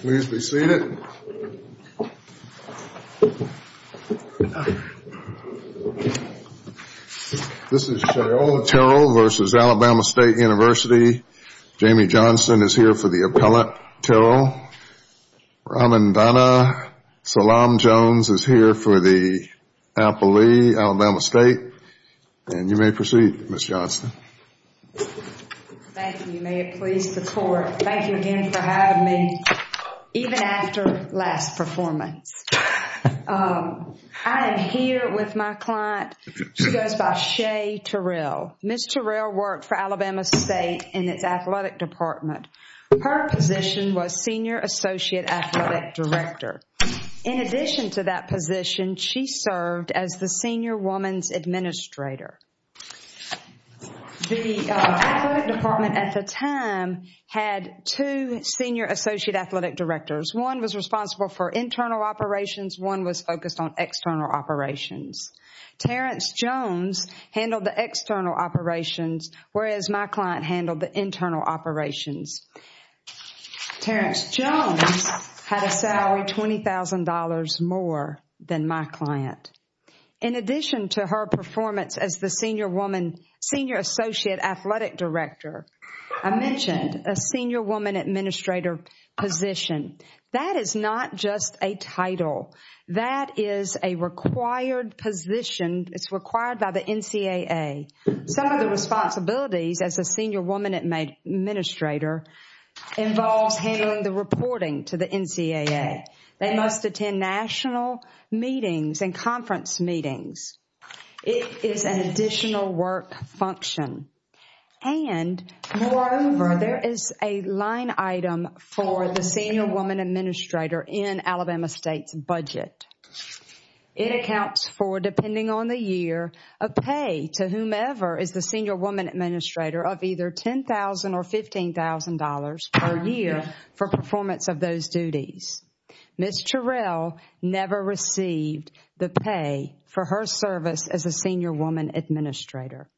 Please be seated. This is Sha'ola Terrell v. Alabama State University. Jamie Johnson is here for the appellate. Carol Ramondana Salam Jones is here for the appellee, Alabama State. And you may proceed, Ms. Johnson. Thank you. May it please the court. Thank you again for having me, even after last performance. I am here with my client. She goes by Shay Terrell. Ms. Terrell worked for Alabama State in its athletic department. Her position was Senior Associate Athletic Director. In addition to that position, she served as the Senior Woman's Administrator. The athletic department at the time had two Senior Associate Athletic Directors. One was responsible for internal operations. One was focused on external operations. Terrence Jones handled the external operations, whereas my client handled the internal operations. Terrence Jones had a salary $20,000 more than my client. In addition to her performance as the Senior Associate Athletic Director, I mentioned a Senior Woman Administrator position. That is not just a title. That is a required position. It is required by the NCAA. Some of the responsibilities as a Senior Woman Administrator involves handling the reporting to the NCAA. They must attend national meetings and conference meetings. It is an additional work function. And moreover, there is a line item for the Senior Woman Administrator in Alabama State's budget. It accounts for, depending on the year, a pay to whomever is the Senior Woman Administrator of either $10,000 or $15,000 per year for performance of those duties. Ms. Terrell never received the pay for her service as a Senior Woman Administrator.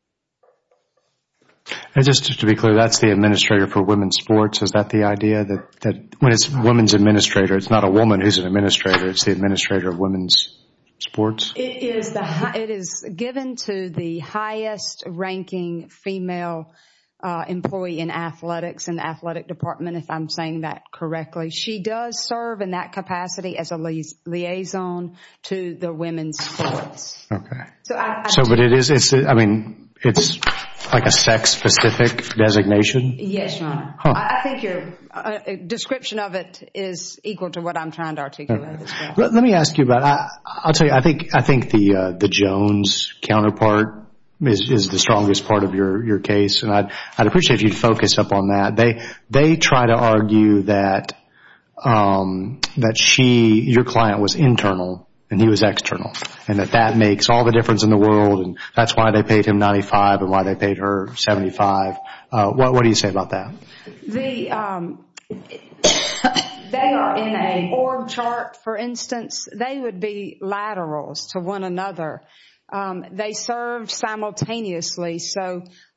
To be clear, that is the Administrator for Women's Sports. Is that the idea? When it is Women's Administrator, it is not a woman who is an administrator. It is the Administrator of Women's Sports? It is given to the highest ranking female employee in athletics, in the athletic department if I am saying that correctly. She does serve in that capacity as a liaison to the Women's Sports. It is like a sex-specific designation? Yes, Your Honor. The description of it is equal to what I am trying to articulate as Let me ask you about that. I think the Jones counterpart is the strongest part of your case. I would appreciate if you would focus on that. They try to argue that your client was internal and he was external. That makes all the difference in the world. That is why they paid him $95,000 and why they paid her $75,000. What do you say about that? They are in an org chart. For instance, they would be laterals to one another. They serve simultaneously.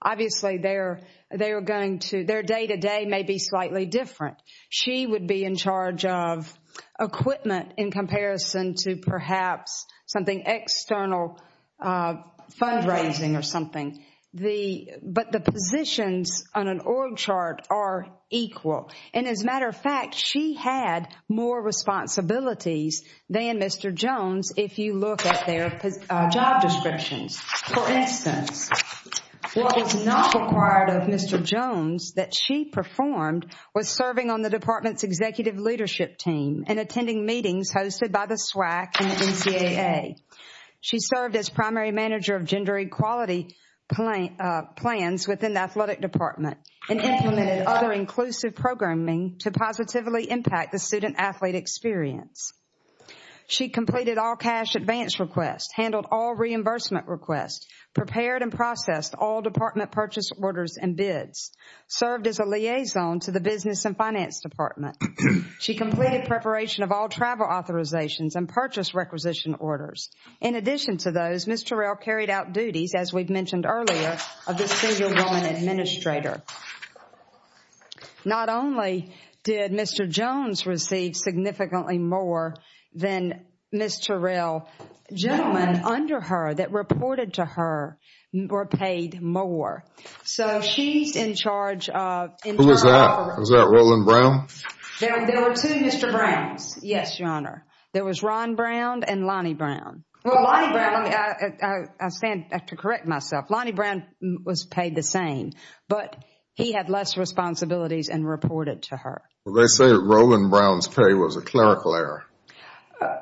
Obviously, their day-to-day may be slightly different. She would be in charge of equipment in comparison to perhaps something external, fundraising or something. But the positions on an org chart are equal. As a matter of fact, she had more responsibilities than Mr. Jones if you look at their job descriptions. For instance, what was not required of Mr. Jones that she performed was serving on the department's executive leadership team and attending meetings hosted by the SWAC and NCAA. She served as primary manager of gender equality plans within the athletic department and implemented other inclusive programming to positively impact the student-athlete experience. She completed all cash advance requests, handled all reimbursement requests, prepared and processed all department purchase orders and bids, served as a liaison to the business and finance department. She completed preparation of all travel authorizations and purchase requisition orders. In addition to those, Ms. Terrell carried out duties, as we mentioned earlier, of the senior woman administrator. Not only did Mr. Jones receive significantly more than Ms. Terrell, gentlemen under her that reported to her were paid more. So she's in charge of... Who was that? Was that Roland Brown? There were two Mr. Browns, yes, Your Honor. There was Ron Brown and Lonnie Brown. Well, Lonnie Brown... I stand to correct myself. Lonnie Brown was paid the same, but he had less responsibilities and reported to her. They say Roland Brown's pay was a clerical error.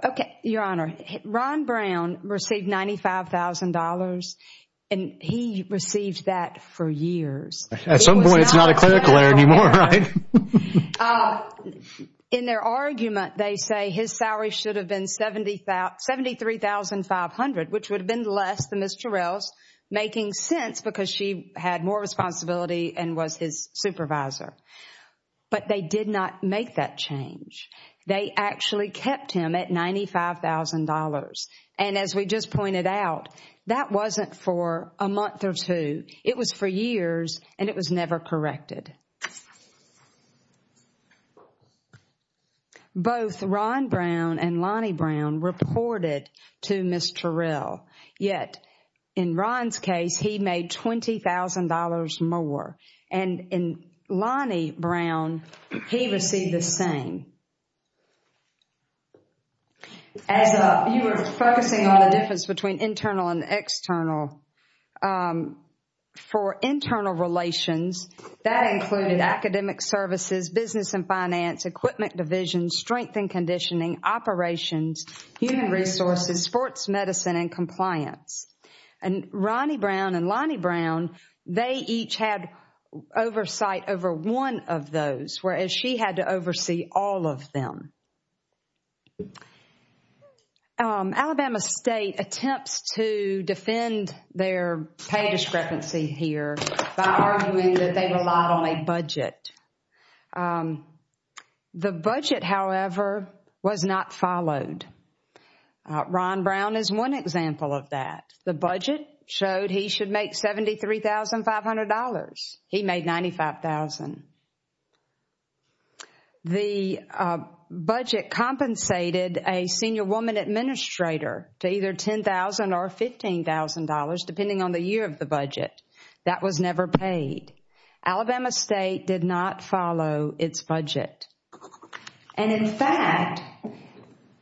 Okay, Your Honor. Ron Brown received $95,000 and he received that for years. At some point, it's not a clerical error anymore, right? In their argument, they say his salary should have been $73,500, which would have been less than Ms. Terrell's, making sense because she had more responsibility and was his supervisor. But they did not make that change. They actually kept him at $95,000. And as we just pointed out, that wasn't for a month or two. It was for years and it was never corrected. Both Ron Brown and Lonnie Brown reported to Ms. Terrell. Yet, in Ron's case, he made $20,000 more. And in Lonnie Brown, he received the same. As you were focusing on the difference between internal and external, for internal relations, that explains the difference. That included academic services, business and finance, equipment division, strength and conditioning, operations, human resources, sports medicine, and compliance. And Ronnie Brown and Lonnie Brown, they each had oversight over one of those, whereas she had to oversee all of them. Alabama State attempts to defend their pay discrepancy here by arguing that they relied on a budget. The budget, however, was not followed. Ron Brown is one example of that. The budget showed he should make $73,500. He made $95,000. The budget compensated a senior woman administrator to either $10,000 or $15,000, depending on the year of the budget. That was never paid. Alabama State did not follow its budget. And in fact,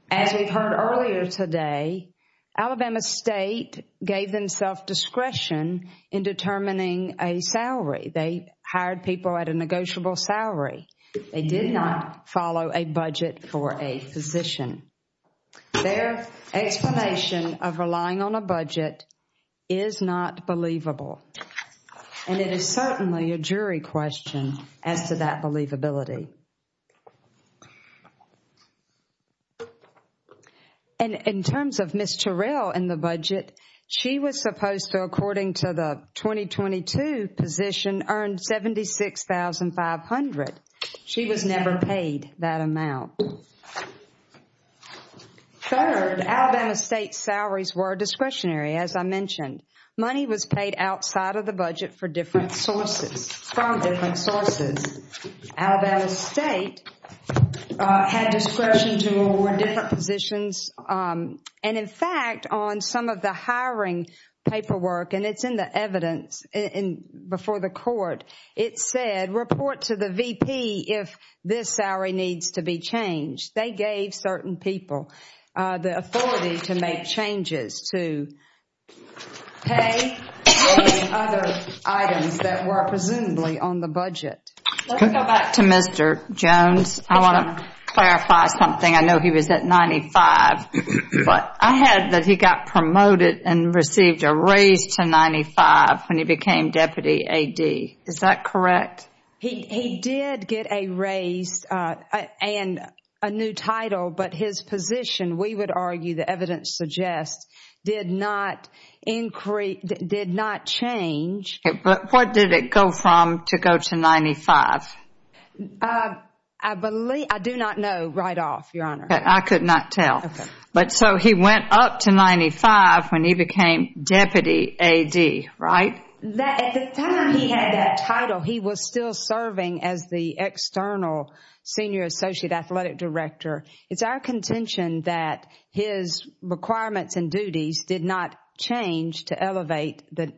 as we've heard earlier today, Alabama State gave them self-discretion in determining a salary. They hired people at a negotiable salary. They did not follow a budget for a physician. Their explanation of relying on a budget is not believable. And it is certainly a jury question as to that believability. And in terms of Ms. Terrell and the budget, she was supposed to, according to the 2022 position, earn $76,500. She was never paid that amount. Third, Alabama State's salaries were discretionary, as I mentioned. Money was paid outside of the budget from different sources. Alabama State had discretion to award different positions. And in fact, on some of the hiring paperwork, and it's in the evidence before the court, it said, report to the VP if this salary needs to be changed. They gave certain people the authority to make changes to pay for the other items that were presumably on the budget. Let's go back to Mr. Jones. I want to clarify something. I know he was at 95, but I heard that he got promoted and received a raise to 95 when he became Deputy AD. Is that correct? He did get a raise and a new title, but his position, we would argue the evidence suggests, did not change. But what did it go from to go to 95? I do not know right off, Your Honor. I could not tell. But so he went up to 95 when he became Deputy AD, right? At the time he had that title, he was still serving as the external Senior Associate Athletic Director. It's our contention that his requirements and duties did not change to elevate the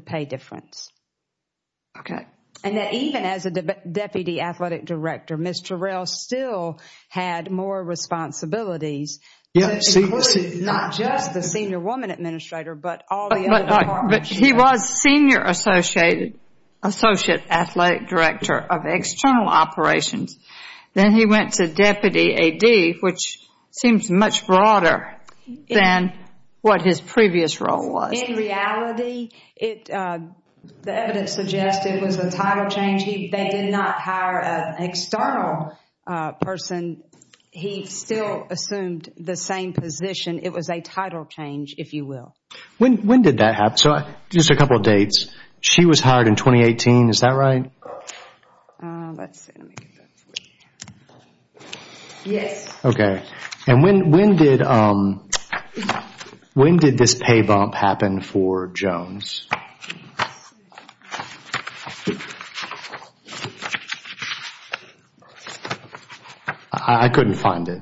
pay difference. Okay. And that even as a Deputy Athletic Director, Ms. Terrell still had more responsibilities, including not just the Senior Woman Administrator, but all the other departments. But he was Senior Associate Athletic Director of External Operations. Then he went to Deputy AD, which seems much broader than what his previous role was. In reality, the evidence suggests it was a title change. They did not hire an external person. He still assumed the same position. It was a title change, if you will. When did that happen? So just a couple of dates. She was hired in 2018, is that right? Let's see. Yes. And when did this pay bump happen for Jones? I couldn't find it.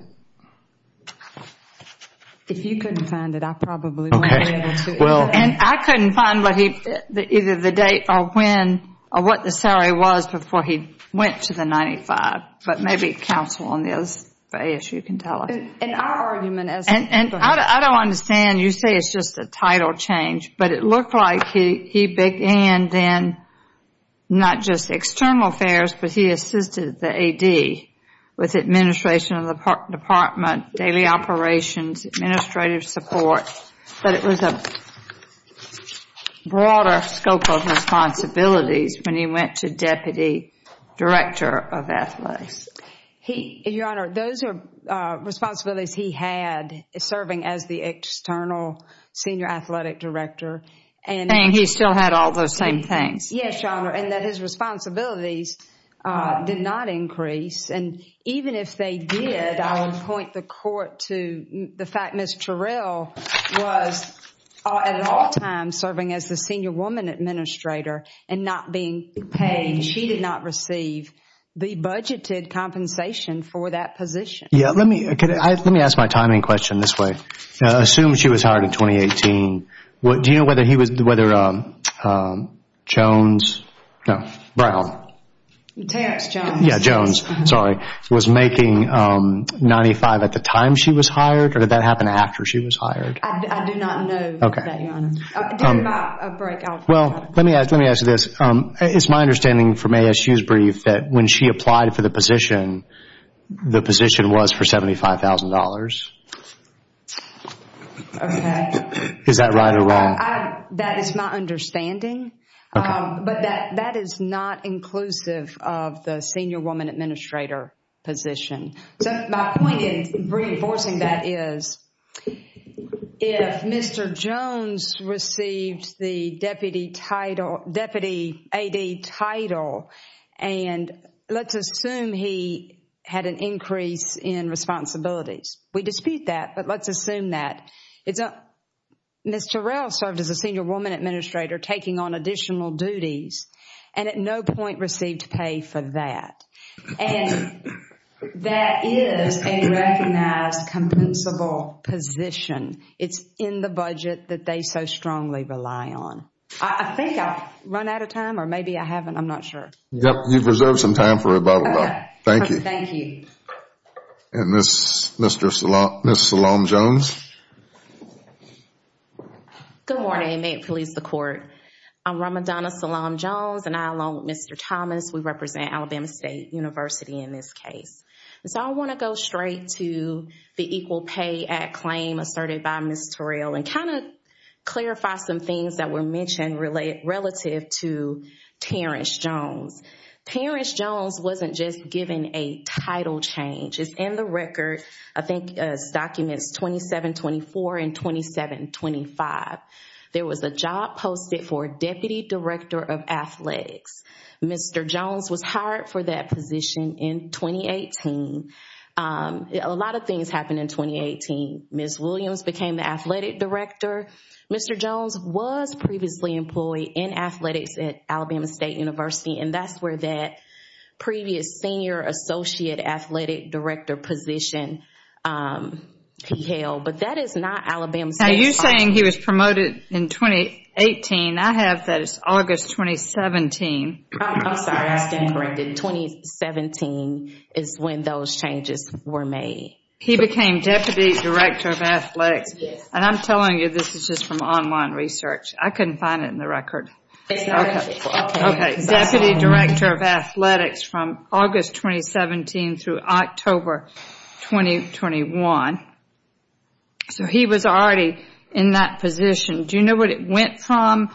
If you couldn't find it, I probably wouldn't be able to. And I couldn't find either the date or when or what the salary was before he went to the 95. But maybe counsel on the other side of the issue can tell us. And our argument is... And I don't understand. You say it's just a title change. But it looked like he began then not just external affairs, but he assisted the AD with administration of the department, daily operations, administrative support. But it was a broader scope of responsibilities when he went to deputy director of athletics. Your Honor, those are responsibilities he had serving as the external senior athletic director. And he still had all those same things. Yes, Your Honor. And that his responsibilities did not increase. And even if they did, I would point the court to the fact Ms. Terrell was at all times serving as the senior woman administrator and not being paid. She did not receive the budgeted compensation for that position. Let me ask my timing question this way. Assume she was hired in 2018. Do you know whether Jones... No, Brown. Terrence Jones. Yeah, Jones. Was making 95 at the time she was hired or did that happen after she was hired? I do not know that, Your Honor. During my break, I'll... Well, let me ask you this. It's my understanding from ASU's brief that when she applied for the position, the position was for $75,000. Okay. Is that right or wrong? That is my understanding. Okay. But that is not inclusive of the senior woman administrator position. So my point in reinforcing that is if Mr. Jones received the deputy title, deputy AD title, and let's assume he had an increase in responsibilities. We dispute that, but let's assume that. Ms. Terrell served as a senior woman administrator taking on additional duties and at no point received pay for that. And that is a recognized compensable position. It's in the budget that they so strongly rely on. I think I've run out of time or maybe I haven't. I'm not sure. Yep, you've reserved some time for rebuttal. Okay. Thank you. Thank you. And Ms. Salome Jones. Good morning. May it please the court. I'm Ramadana Salome Jones and I, along with Mr. Thomas, we represent Alabama State University in this case. So I want to go straight to the Equal Pay Act claim asserted by Ms. Terrell and kind of clarify some things that were mentioned relative to Terrence Jones. Terrence Jones wasn't just given a title change. It's in the record. I think it's documents 2724 and 2725. There was a job posted for Deputy Director of Athletics. Mr. Jones was hired for that position in 2018. A lot of things happened in 2018. Ms. Williams became the athletic director. Mr. Jones was previously employed in athletics at Alabama State University and that's where that previous senior associate athletic director position held. But that is not Alabama State's. Now you're saying he was promoted in 2018. I have that as August 2017. I'm sorry. I stand corrected. 2017 is when those changes were made. He became Deputy Director of Athletics. Yes. And I'm telling you this is just from online research. I couldn't find it in the record. Okay. Deputy Director of Athletics from August 2017 through October 2021. So he was already in that position. Do you know what it went from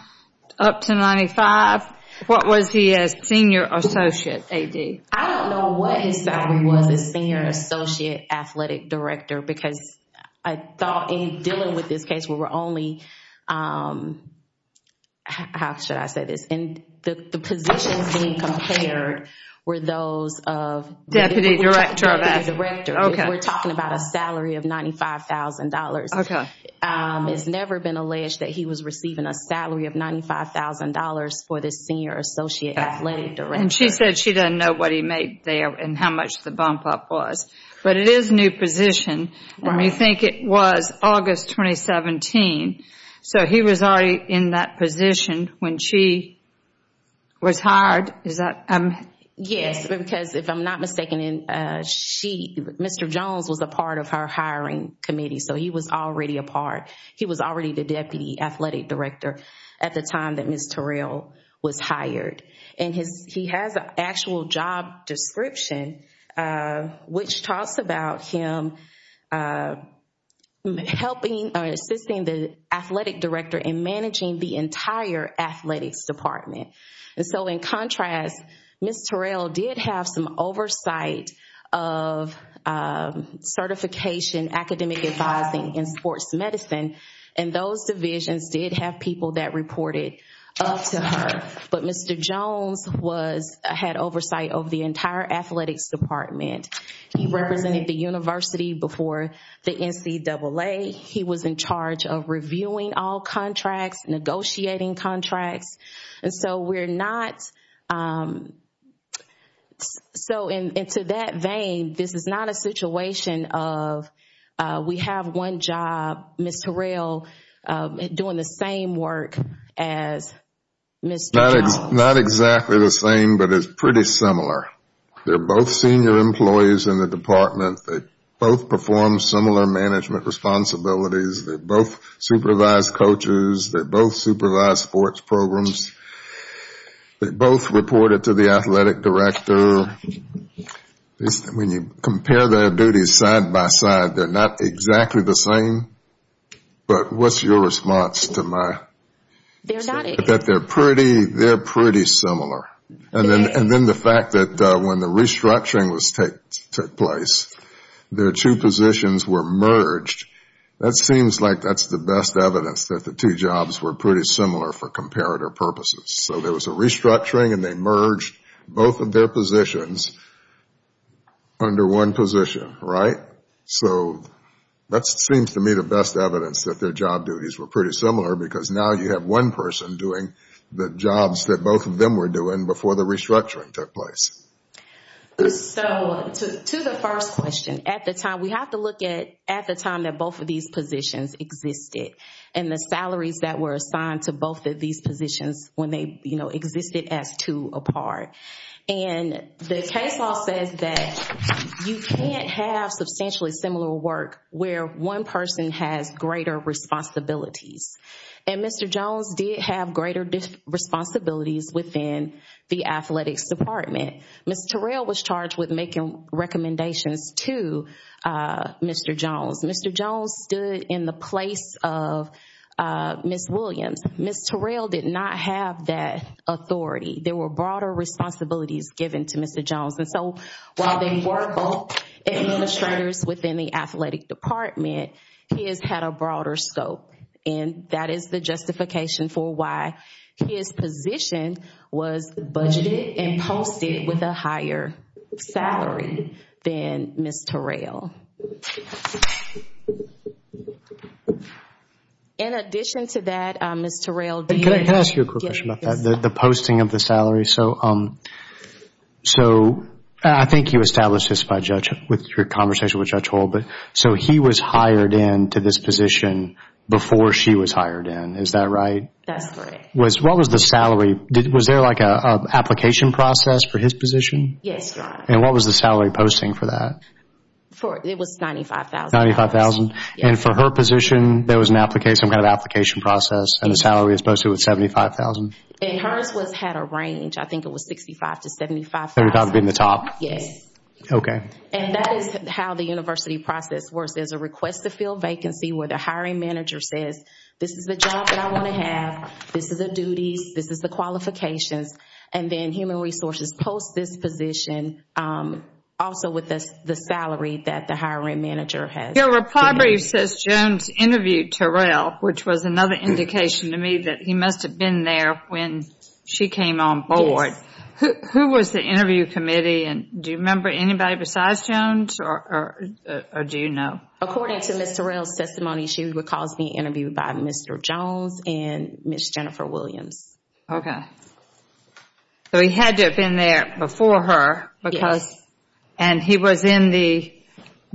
up to 95? What was he as senior associate AD? I don't know what his salary was as senior associate athletic director because I thought in dealing with this case we were only, how should I say this? The positions being compared were those of... Deputy Director of Athletics. We're talking about a salary of $95,000. Okay. It's never been alleged that he was receiving a salary of $95,000 for the senior associate athletic director. And she said she doesn't know what he made there and how much the bump up was. But it is a new position and we think it was August 2017. So he was already in that position when she was hired. Is that... Yes. Because if I'm not mistaken, Mr. Jones was a part of her hiring committee. So he was already a part. He was already the deputy athletic director at the time that Ms. Terrell was hired. And he has an actual job description which talks about him helping or assisting the athletic director in managing the entire athletics department. And so in contrast, Ms. Terrell did have some oversight of certification, academic advising, and sports medicine. And those divisions did have people that reported up to her. But Mr. Jones had oversight of the entire athletics department. He represented the university before the NCAA. He was in charge of reviewing all contracts, negotiating contracts. And so we're not... So into that vein, this is not a situation of we have one job, Ms. Terrell doing the same work as Mr. Jones. Not exactly the same, but it's pretty similar. They're both senior employees in the department. They both perform similar management responsibilities. They're both supervised coaches. They're both supervised sports programs. They both reported to the athletic director. When you compare their duties side by side, they're not exactly the same. But what's your response to my... They're not... That they're pretty similar. And then the fact that when the restructuring took place, their two positions were merged. That seems like that's the best evidence that the two jobs were pretty similar for comparator purposes. So there was a restructuring and they merged both of their positions under one position, right? So that seems to me the best evidence that their job duties were pretty similar because now you have one person doing the jobs that both of them were doing before the restructuring took place. So to the first question, at the time, we have to look at the time that both of these positions existed and the salaries that were assigned to both of these positions when they existed as two apart. And the case law says that you can't have substantially similar work where one person has greater responsibilities. And Mr. Jones did have greater responsibilities within the athletics department. Ms. Terrell was charged with making recommendations to Mr. Jones. Mr. Jones stood in the place of Ms. Williams. Ms. Terrell did not have that authority. There were broader responsibilities given to Mr. Jones. And so while they were both administrators within the athletic department, his had a broader scope. And that is the justification for why his position was budgeted and posted with a higher salary than Ms. Terrell. In addition to that, Ms. Terrell did... Can I ask you a quick question about that? The posting of the salary. So I think you established this with your conversation with Judge Hull. So he was hired into this position before she was hired in. Is that right? That's correct. What was the salary? Was there like an application process for his position? Yes, Your Honor. And what was the salary posting for that? It was $95,000. And for her position, there was some kind of application process and the salary was posted with $75,000? And hers had a range. I think it was $65,000 to $75,000. $65,000 being the top? Yes. Okay. And that is how the university process works. There's a request to fill vacancy where the hiring manager says, this is the job that I want to have. This is the duties. This is the qualifications. And then Human Resources posts this position also with the salary that the hiring manager has. Your reply brief says Jones interviewed Terrell, which was another indication to me that he must have been there when she came on board. Yes. Who was the interview committee? And do you remember anybody besides Jones or do you know? According to Ms. Terrell's testimony, she would cause the interview by Mr. Jones and Ms. Jennifer Williams. Okay. So he had to have been there before her. Yes. And he was in the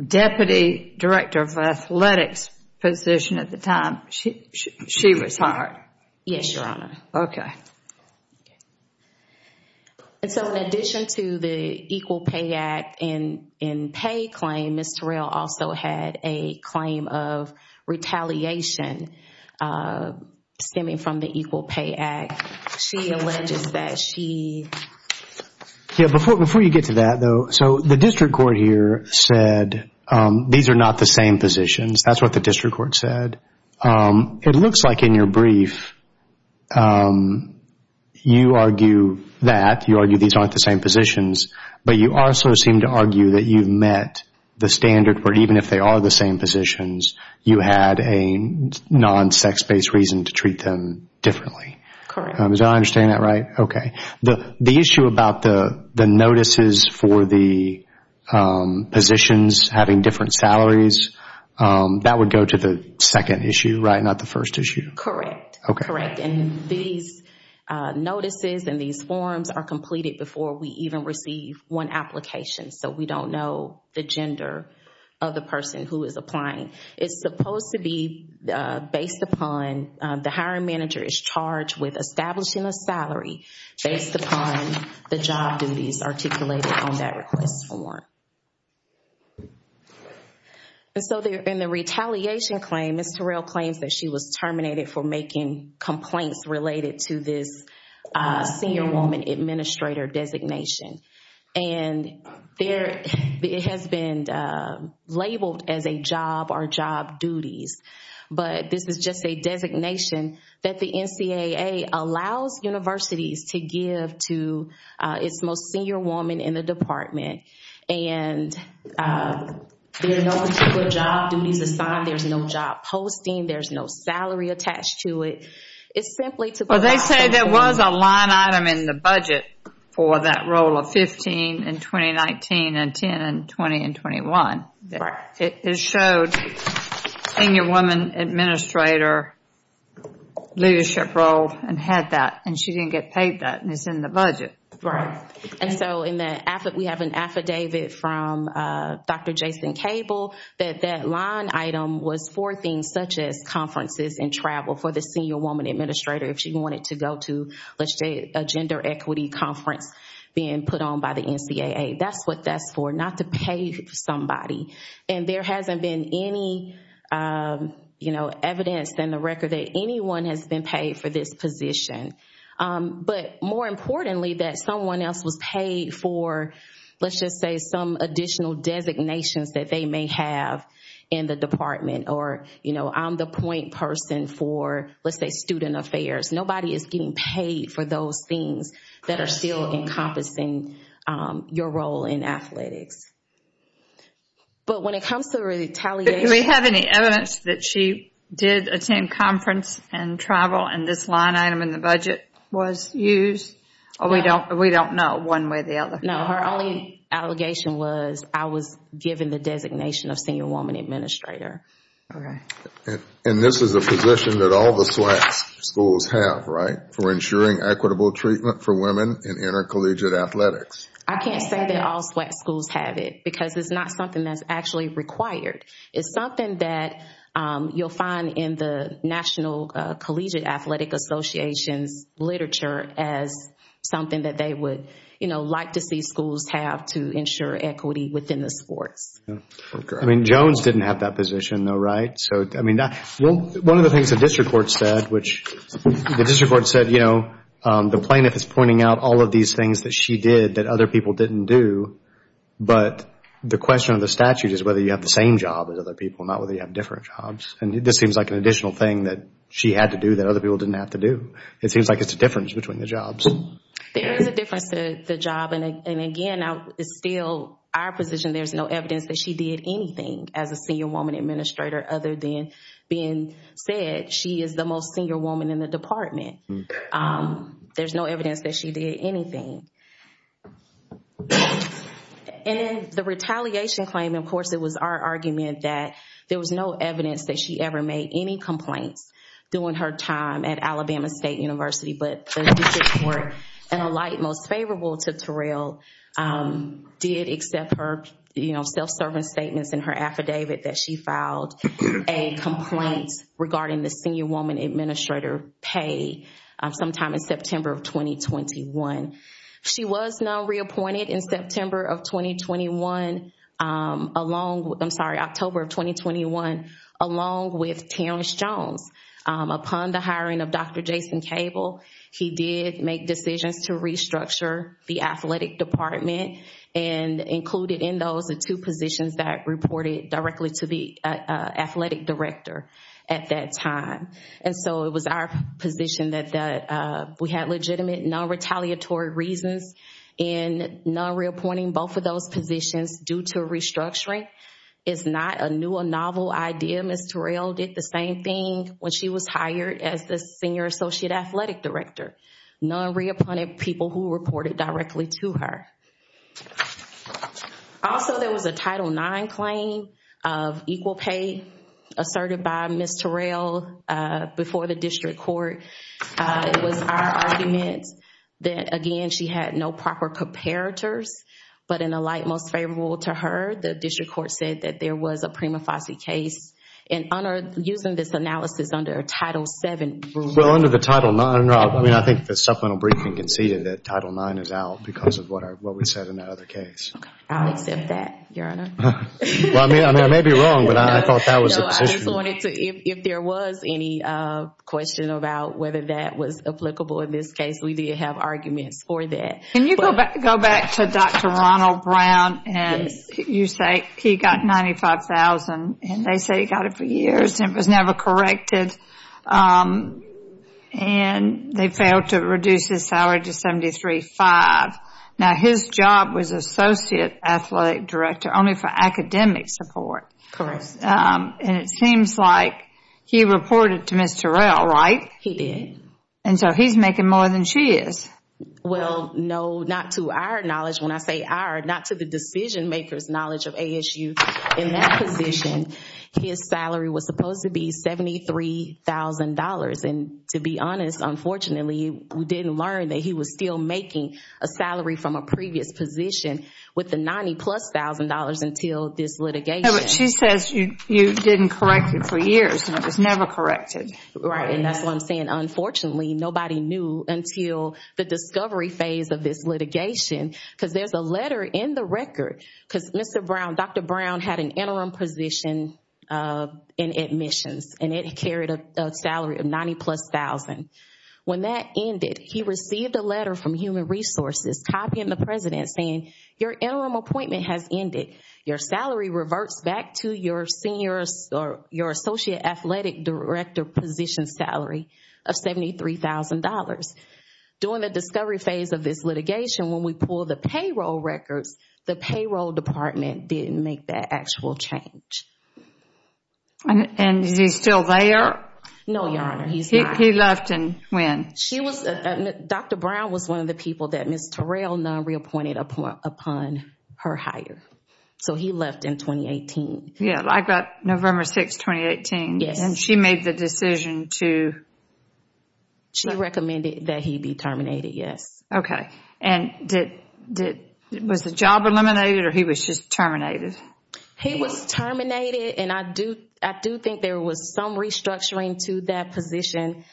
Deputy Director of Athletics position at the time. She was hired. Yes, Your Honor. Okay. So in addition to the Equal Pay Act and pay claim, Ms. Terrell also had a claim of retaliation stemming from the Equal Pay Act. She alleges that she. Before you get to that though, so the district court here said these are not the same positions. That's what the district court said. It looks like in your brief you argue that. You argue these aren't the same positions. But you also seem to argue that you've met the standard where even if they are the same positions, you had a non-sex-based reason to treat them differently. Correct. Did I understand that right? Okay. The issue about the notices for the positions having different salaries, that would go to the second issue, right, not the first issue? Correct. Okay. Correct. And these notices and these forms are completed before we even receive one application. So we don't know the gender of the person who is applying. It's supposed to be based upon the hiring manager is charged with establishing a salary based upon the job duties articulated on that request form. And so in the retaliation claim, Ms. Terrell claims that she was terminated for making complaints related to this senior woman administrator designation. And it has been labeled as a job or job duties. But this is just a designation that the NCAA allows universities to give to its most senior woman in the department. And there are no particular job duties assigned. There's no job posting. There's no salary attached to it. It's simply to go back to the senior woman. Well, they say there was a line item in the budget for that role of 15 in 2019 and 10 in 2020 and 2021. Correct. It showed senior woman administrator leadership role and had that. And she didn't get paid that. And it's in the budget. And so we have an affidavit from Dr. Jason Cable that that line item was for things such as conferences and travel for the senior woman administrator if she wanted to go to, let's say, a gender equity conference being put on by the NCAA. That's what that's for, not to pay somebody. And there hasn't been any, you know, evidence in the record that anyone has been paid for this position. But more importantly, that someone else was paid for, let's just say, some additional designations that they may have in the department or, you know, I'm the point person for, let's say, student affairs. Nobody is getting paid for those things that are still encompassing your role in athletics. But when it comes to retaliation... Do we have any evidence that she did attend conference and travel and this line item in the budget was used? We don't know one way or the other. No, her only allegation was I was given the designation of senior woman administrator. Okay. And this is a position that all the SWAC schools have, right? For ensuring equitable treatment for women in intercollegiate athletics. I can't say that all SWAC schools have it because it's not something that's actually required. It's something that you'll find in the National Collegiate Athletic Association's literature as something that they would, you know, like to see schools have to ensure equity within the sports. I mean, Jones didn't have that position though, right? So, I mean, one of the things the district court said, which the district court said, you know, the plaintiff is pointing out all of these things that she did that other people didn't do. But the question of the statute is whether you have the same job as other people, not whether you have different jobs. And this seems like an additional thing that she had to do that other people didn't have to do. It seems like it's a difference between the jobs. There is a difference to the job and again, it's still our position there's no evidence that she did anything as a senior woman administrator other than being said she is the most senior woman in the department. There's no evidence that she did anything. And the retaliation claim, of course, it was our argument that there was no evidence that she ever made any complaints during her time at Alabama State University. But the district court, in a light most favorable to Terrell, did accept her, you know, self-serving statements in her affidavit that she filed a complaint regarding the senior woman administrator pay sometime in September of 2021. She was now reappointed in September of 2021, I'm sorry, October of 2021, along with Terrence Jones. Upon the hiring of Dr. Jason Cable, he did make decisions to restructure the athletic department and included in those the two positions that reported directly to the athletic director at that time. And so it was our position that we had legitimate non-retaliatory reasons in non-reappointing both of those positions due to restructuring is not a new or novel idea. Ms. Terrell did the same thing when she was hired as the senior associate athletic director. Non-reappointed people who reported directly to her. Also, there was a Title IX claim of equal pay asserted by Ms. Terrell before the district court. It was our argument that, again, she had no proper comparators, but in a light most favorable to her, the district court said that there was a prima facie case. And, Honor, using this analysis under Title VII rule. Well, under the Title IX, I mean, I think the supplemental briefing conceded that Title IX is out because of what we said in that other case. I'll accept that, Your Honor. Well, I mean, I may be wrong, but I thought that was the position. So I just wanted to, if there was any question about whether that was applicable in this case, we did have arguments for that. Can you go back to Dr. Ronald Brown and you say he got $95,000 and they say he got it for years and it was never corrected and they failed to reduce his salary to $73,500. Now, his job was associate athletic director only for academic support. Correct. And it seems like he reported to Ms. Terrell, right? He did. And so he's making more than she is. Well, no, not to our knowledge. When I say our, not to the decision makers' knowledge of ASU. In that position, his salary was supposed to be $73,000. And to be honest, unfortunately, we didn't learn that he was still making a salary from a previous position with the $90,000 plus until this litigation. No, but she says you didn't correct it for years and it was never corrected. Right, and that's what I'm saying. Unfortunately, nobody knew until the discovery phase of this litigation because there's a letter in the record because Mr. Brown, Dr. Brown had an interim position in admissions and it carried a salary of $90,000 plus. When that ended, he received a letter from Human Resources copying the president saying, your interim appointment has ended. Your salary reverts back to your senior or your associate athletic director position salary of $73,000. During the discovery phase of this litigation, when we pulled the payroll records, the payroll department didn't make that actual change. And is he still there? No, Your Honor, he's not. He left and when? Dr. Brown was one of the people that Ms. Terrell reappointed upon her hire. So he left in 2018. Yeah, like November 6, 2018. Yes. And she made the decision to? She recommended that he be terminated, yes. Okay. And was the job eliminated or he was just terminated? He was terminated and I do think there was some restructuring to that position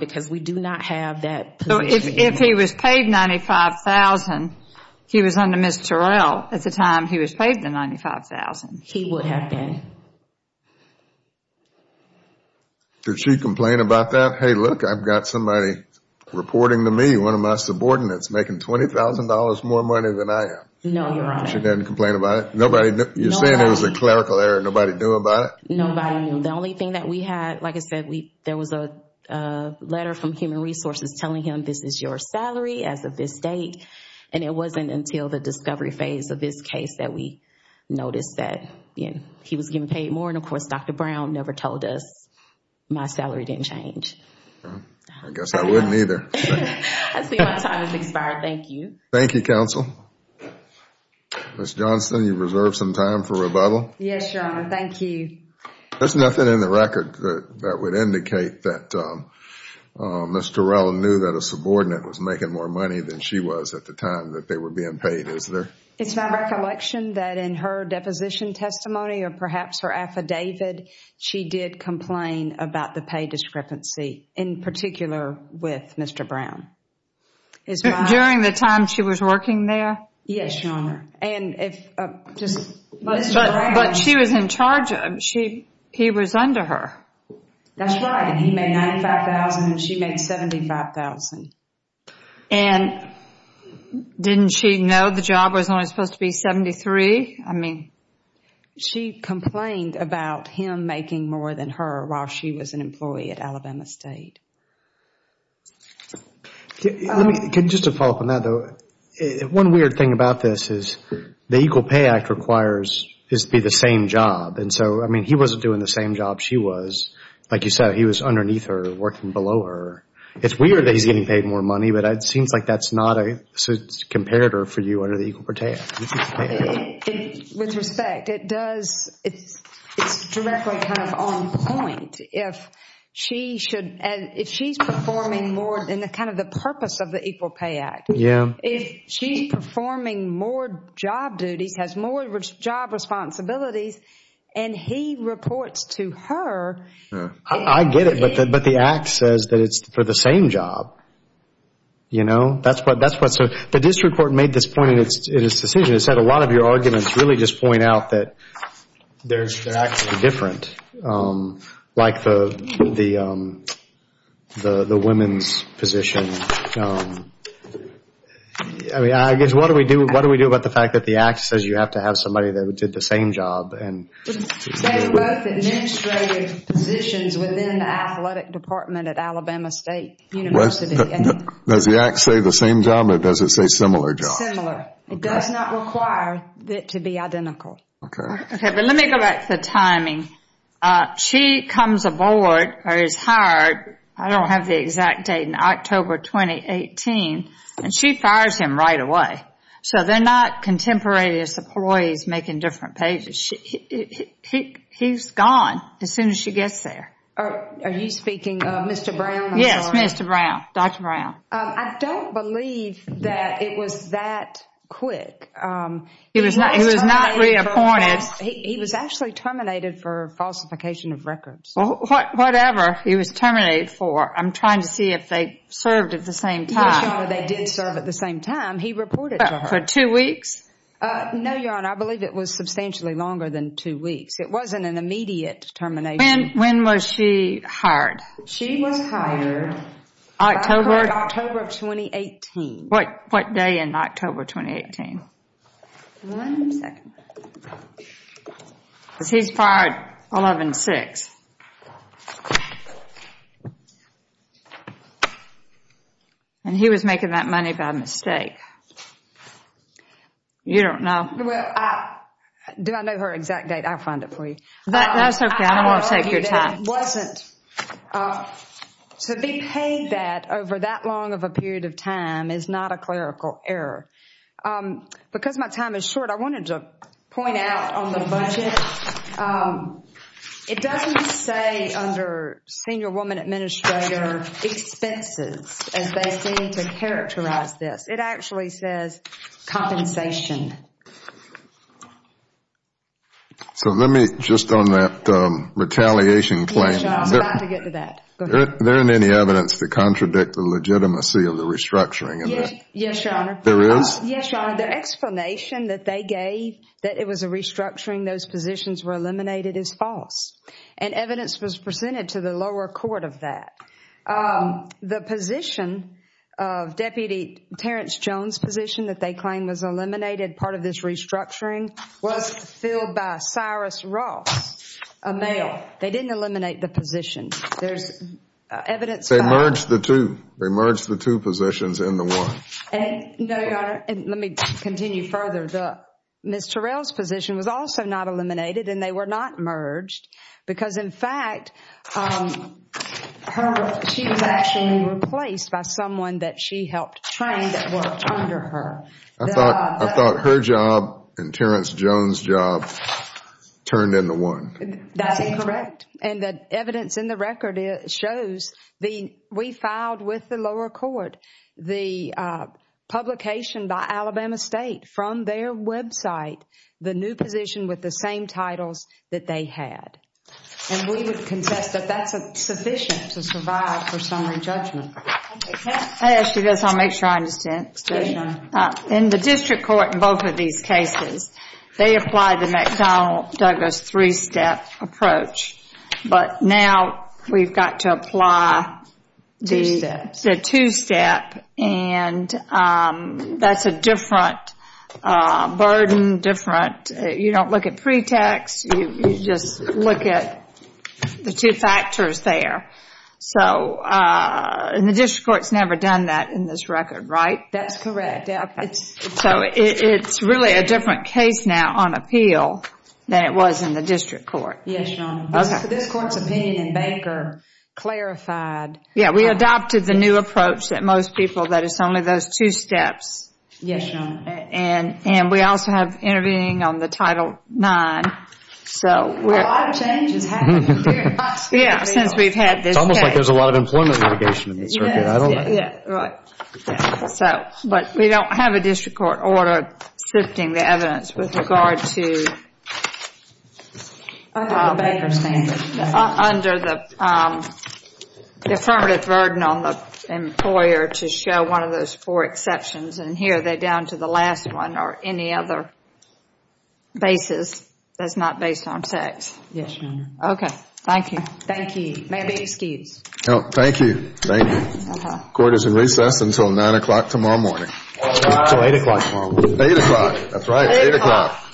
because we do not have that position. So if he was paid $95,000, he was under Ms. Terrell at the time he was paid the $95,000? He would have been. Did she complain about that? Hey, look, I've got somebody reporting to me, one of my subordinates, making $20,000 more money than I am. No, Your Honor. She didn't complain about it? You're saying it was a clerical error and nobody knew about it? Nobody knew. The only thing that we had, like I said, there was a letter from Human Resources telling him this is your salary as of this date. And it wasn't until the discovery phase of this case that we noticed that he was getting paid more. And, of course, Dr. Brown never told us my salary didn't change. I guess I wouldn't either. I see my time has expired. Thank you. Thank you, counsel. Ms. Johnston, you reserve some time for rebuttal? Yes, Your Honor. Thank you. There's nothing in the record that would indicate that Ms. Terrell knew that a subordinate was making more money than she was at the time that they were being paid, is there? It's my recollection that in her deposition testimony or perhaps her affidavit, she did complain about the pay discrepancy, in particular with Mr. Brown. During the time she was working there? Yes, Your Honor. But she was in charge. He was under her. That's right. And he made $95,000 and she made $75,000. And didn't she know the job was only supposed to be $73,000? I mean, she complained about him making more than her while she was an employee at Alabama State. Just to follow up on that, though, one weird thing about this is the Equal Pay Act requires this to be the same job. And so, I mean, he wasn't doing the same job she was. Like you said, he was underneath her, working below her. It's weird that he's getting paid more money, but it seems like that's not a comparator for you under the Equal Pay Act. With respect, it does, it's directly kind of on point. If she should, if she's performing more than kind of the purpose of the Equal Pay Act, if she's performing more job duties, has more job responsibilities, and he reports to her. I get it, but the Act says that it's for the same job. You know, that's what, so the district court made this point in its decision. It said a lot of your arguments really just point out that they're actually different. Like the women's position. I mean, I guess what do we do about the fact that the Act says you have to have somebody that did the same job? They were both administrative positions within the athletic department at Alabama State University. Does the Act say the same job, or does it say similar job? Similar. It does not require it to be identical. Okay. Okay, but let me go back to the timing. She comes aboard or is hired, I don't have the exact date, in October 2018, and she fires him right away. So they're not contemporaneous employees making different pages. He's gone as soon as she gets there. Are you speaking of Mr. Brown? Yes, Mr. Brown, Dr. Brown. I don't believe that it was that quick. He was not reappointed. He was actually terminated for falsification of records. Whatever he was terminated for, I'm trying to see if they served at the same time. Yes, Your Honor, they did serve at the same time. He reported to her. For two weeks? No, Your Honor, I believe it was substantially longer than two weeks. It wasn't an immediate termination. When was she hired? She was hired October 2018. What day in October 2018? One second. Because he's fired 11-6. And he was making that money by mistake. You don't know. Do I know her exact date? I'll find it for you. That's okay. I don't want to take your time. It wasn't. To be paid that over that long of a period of time is not a clerical error. Because my time is short, I wanted to point out on the budget, it doesn't say under senior woman administrator expenses as they seem to characterize this. It actually says compensation. So let me just on that retaliation claim. Yes, Your Honor, I was about to get to that. Go ahead. There isn't any evidence to contradict the legitimacy of the restructuring, is there? Yes, Your Honor. There is? Yes, Your Honor. The explanation that they gave that it was a restructuring, those positions were eliminated, is false. And evidence was presented to the lower court of that. The position of Deputy Terrence Jones' position that they claim was eliminated, part of this restructuring, was filled by Cyrus Ross, a male. They didn't eliminate the position. They merged the two. They merged the two positions in the one. No, Your Honor. Let me continue further. Ms. Terrell's position was also not eliminated, and they were not merged. Because, in fact, she was actually replaced by someone that she helped train that worked under her. I thought her job and Terrence Jones' job turned into one. That's incorrect. And the evidence in the record shows we filed with the lower court the publication by Alabama State from their website the new position with the same titles that they had. And we would contest that that's sufficient to survive for summary judgment. I'll ask you this. I'll make sure I understand. Yes, Your Honor. In the district court in both of these cases, they applied the McDonnell-Douglas three-step approach. But now we've got to apply the two-step. And that's a different burden. You don't look at pretext. You just look at the two factors there. And the district court's never done that in this record, right? That's correct. So it's really a different case now on appeal than it was in the district court. Yes, Your Honor. This court's opinion in Baker clarified. Yeah, we adopted the new approach that most people that it's only those two steps. Yes, Your Honor. And we also have intervening on the Title IX. A lot of change has happened. Yeah, since we've had this case. It's almost like there's a lot of employment litigation in this record. I don't know. Yeah, right. But we don't have a district court order shifting the evidence with regard to Baker standards. Under the affirmative burden on the employer to show one of those four exceptions. And here they're down to the last one or any other basis that's not based on sex. Yes, Your Honor. Okay. Thank you. Thank you. May I be excused? No, thank you. Thank you. Court is in recess until 9 o'clock tomorrow morning. Until 8 o'clock tomorrow morning. 8 o'clock. That's right. 8 o'clock. 8 o'clock.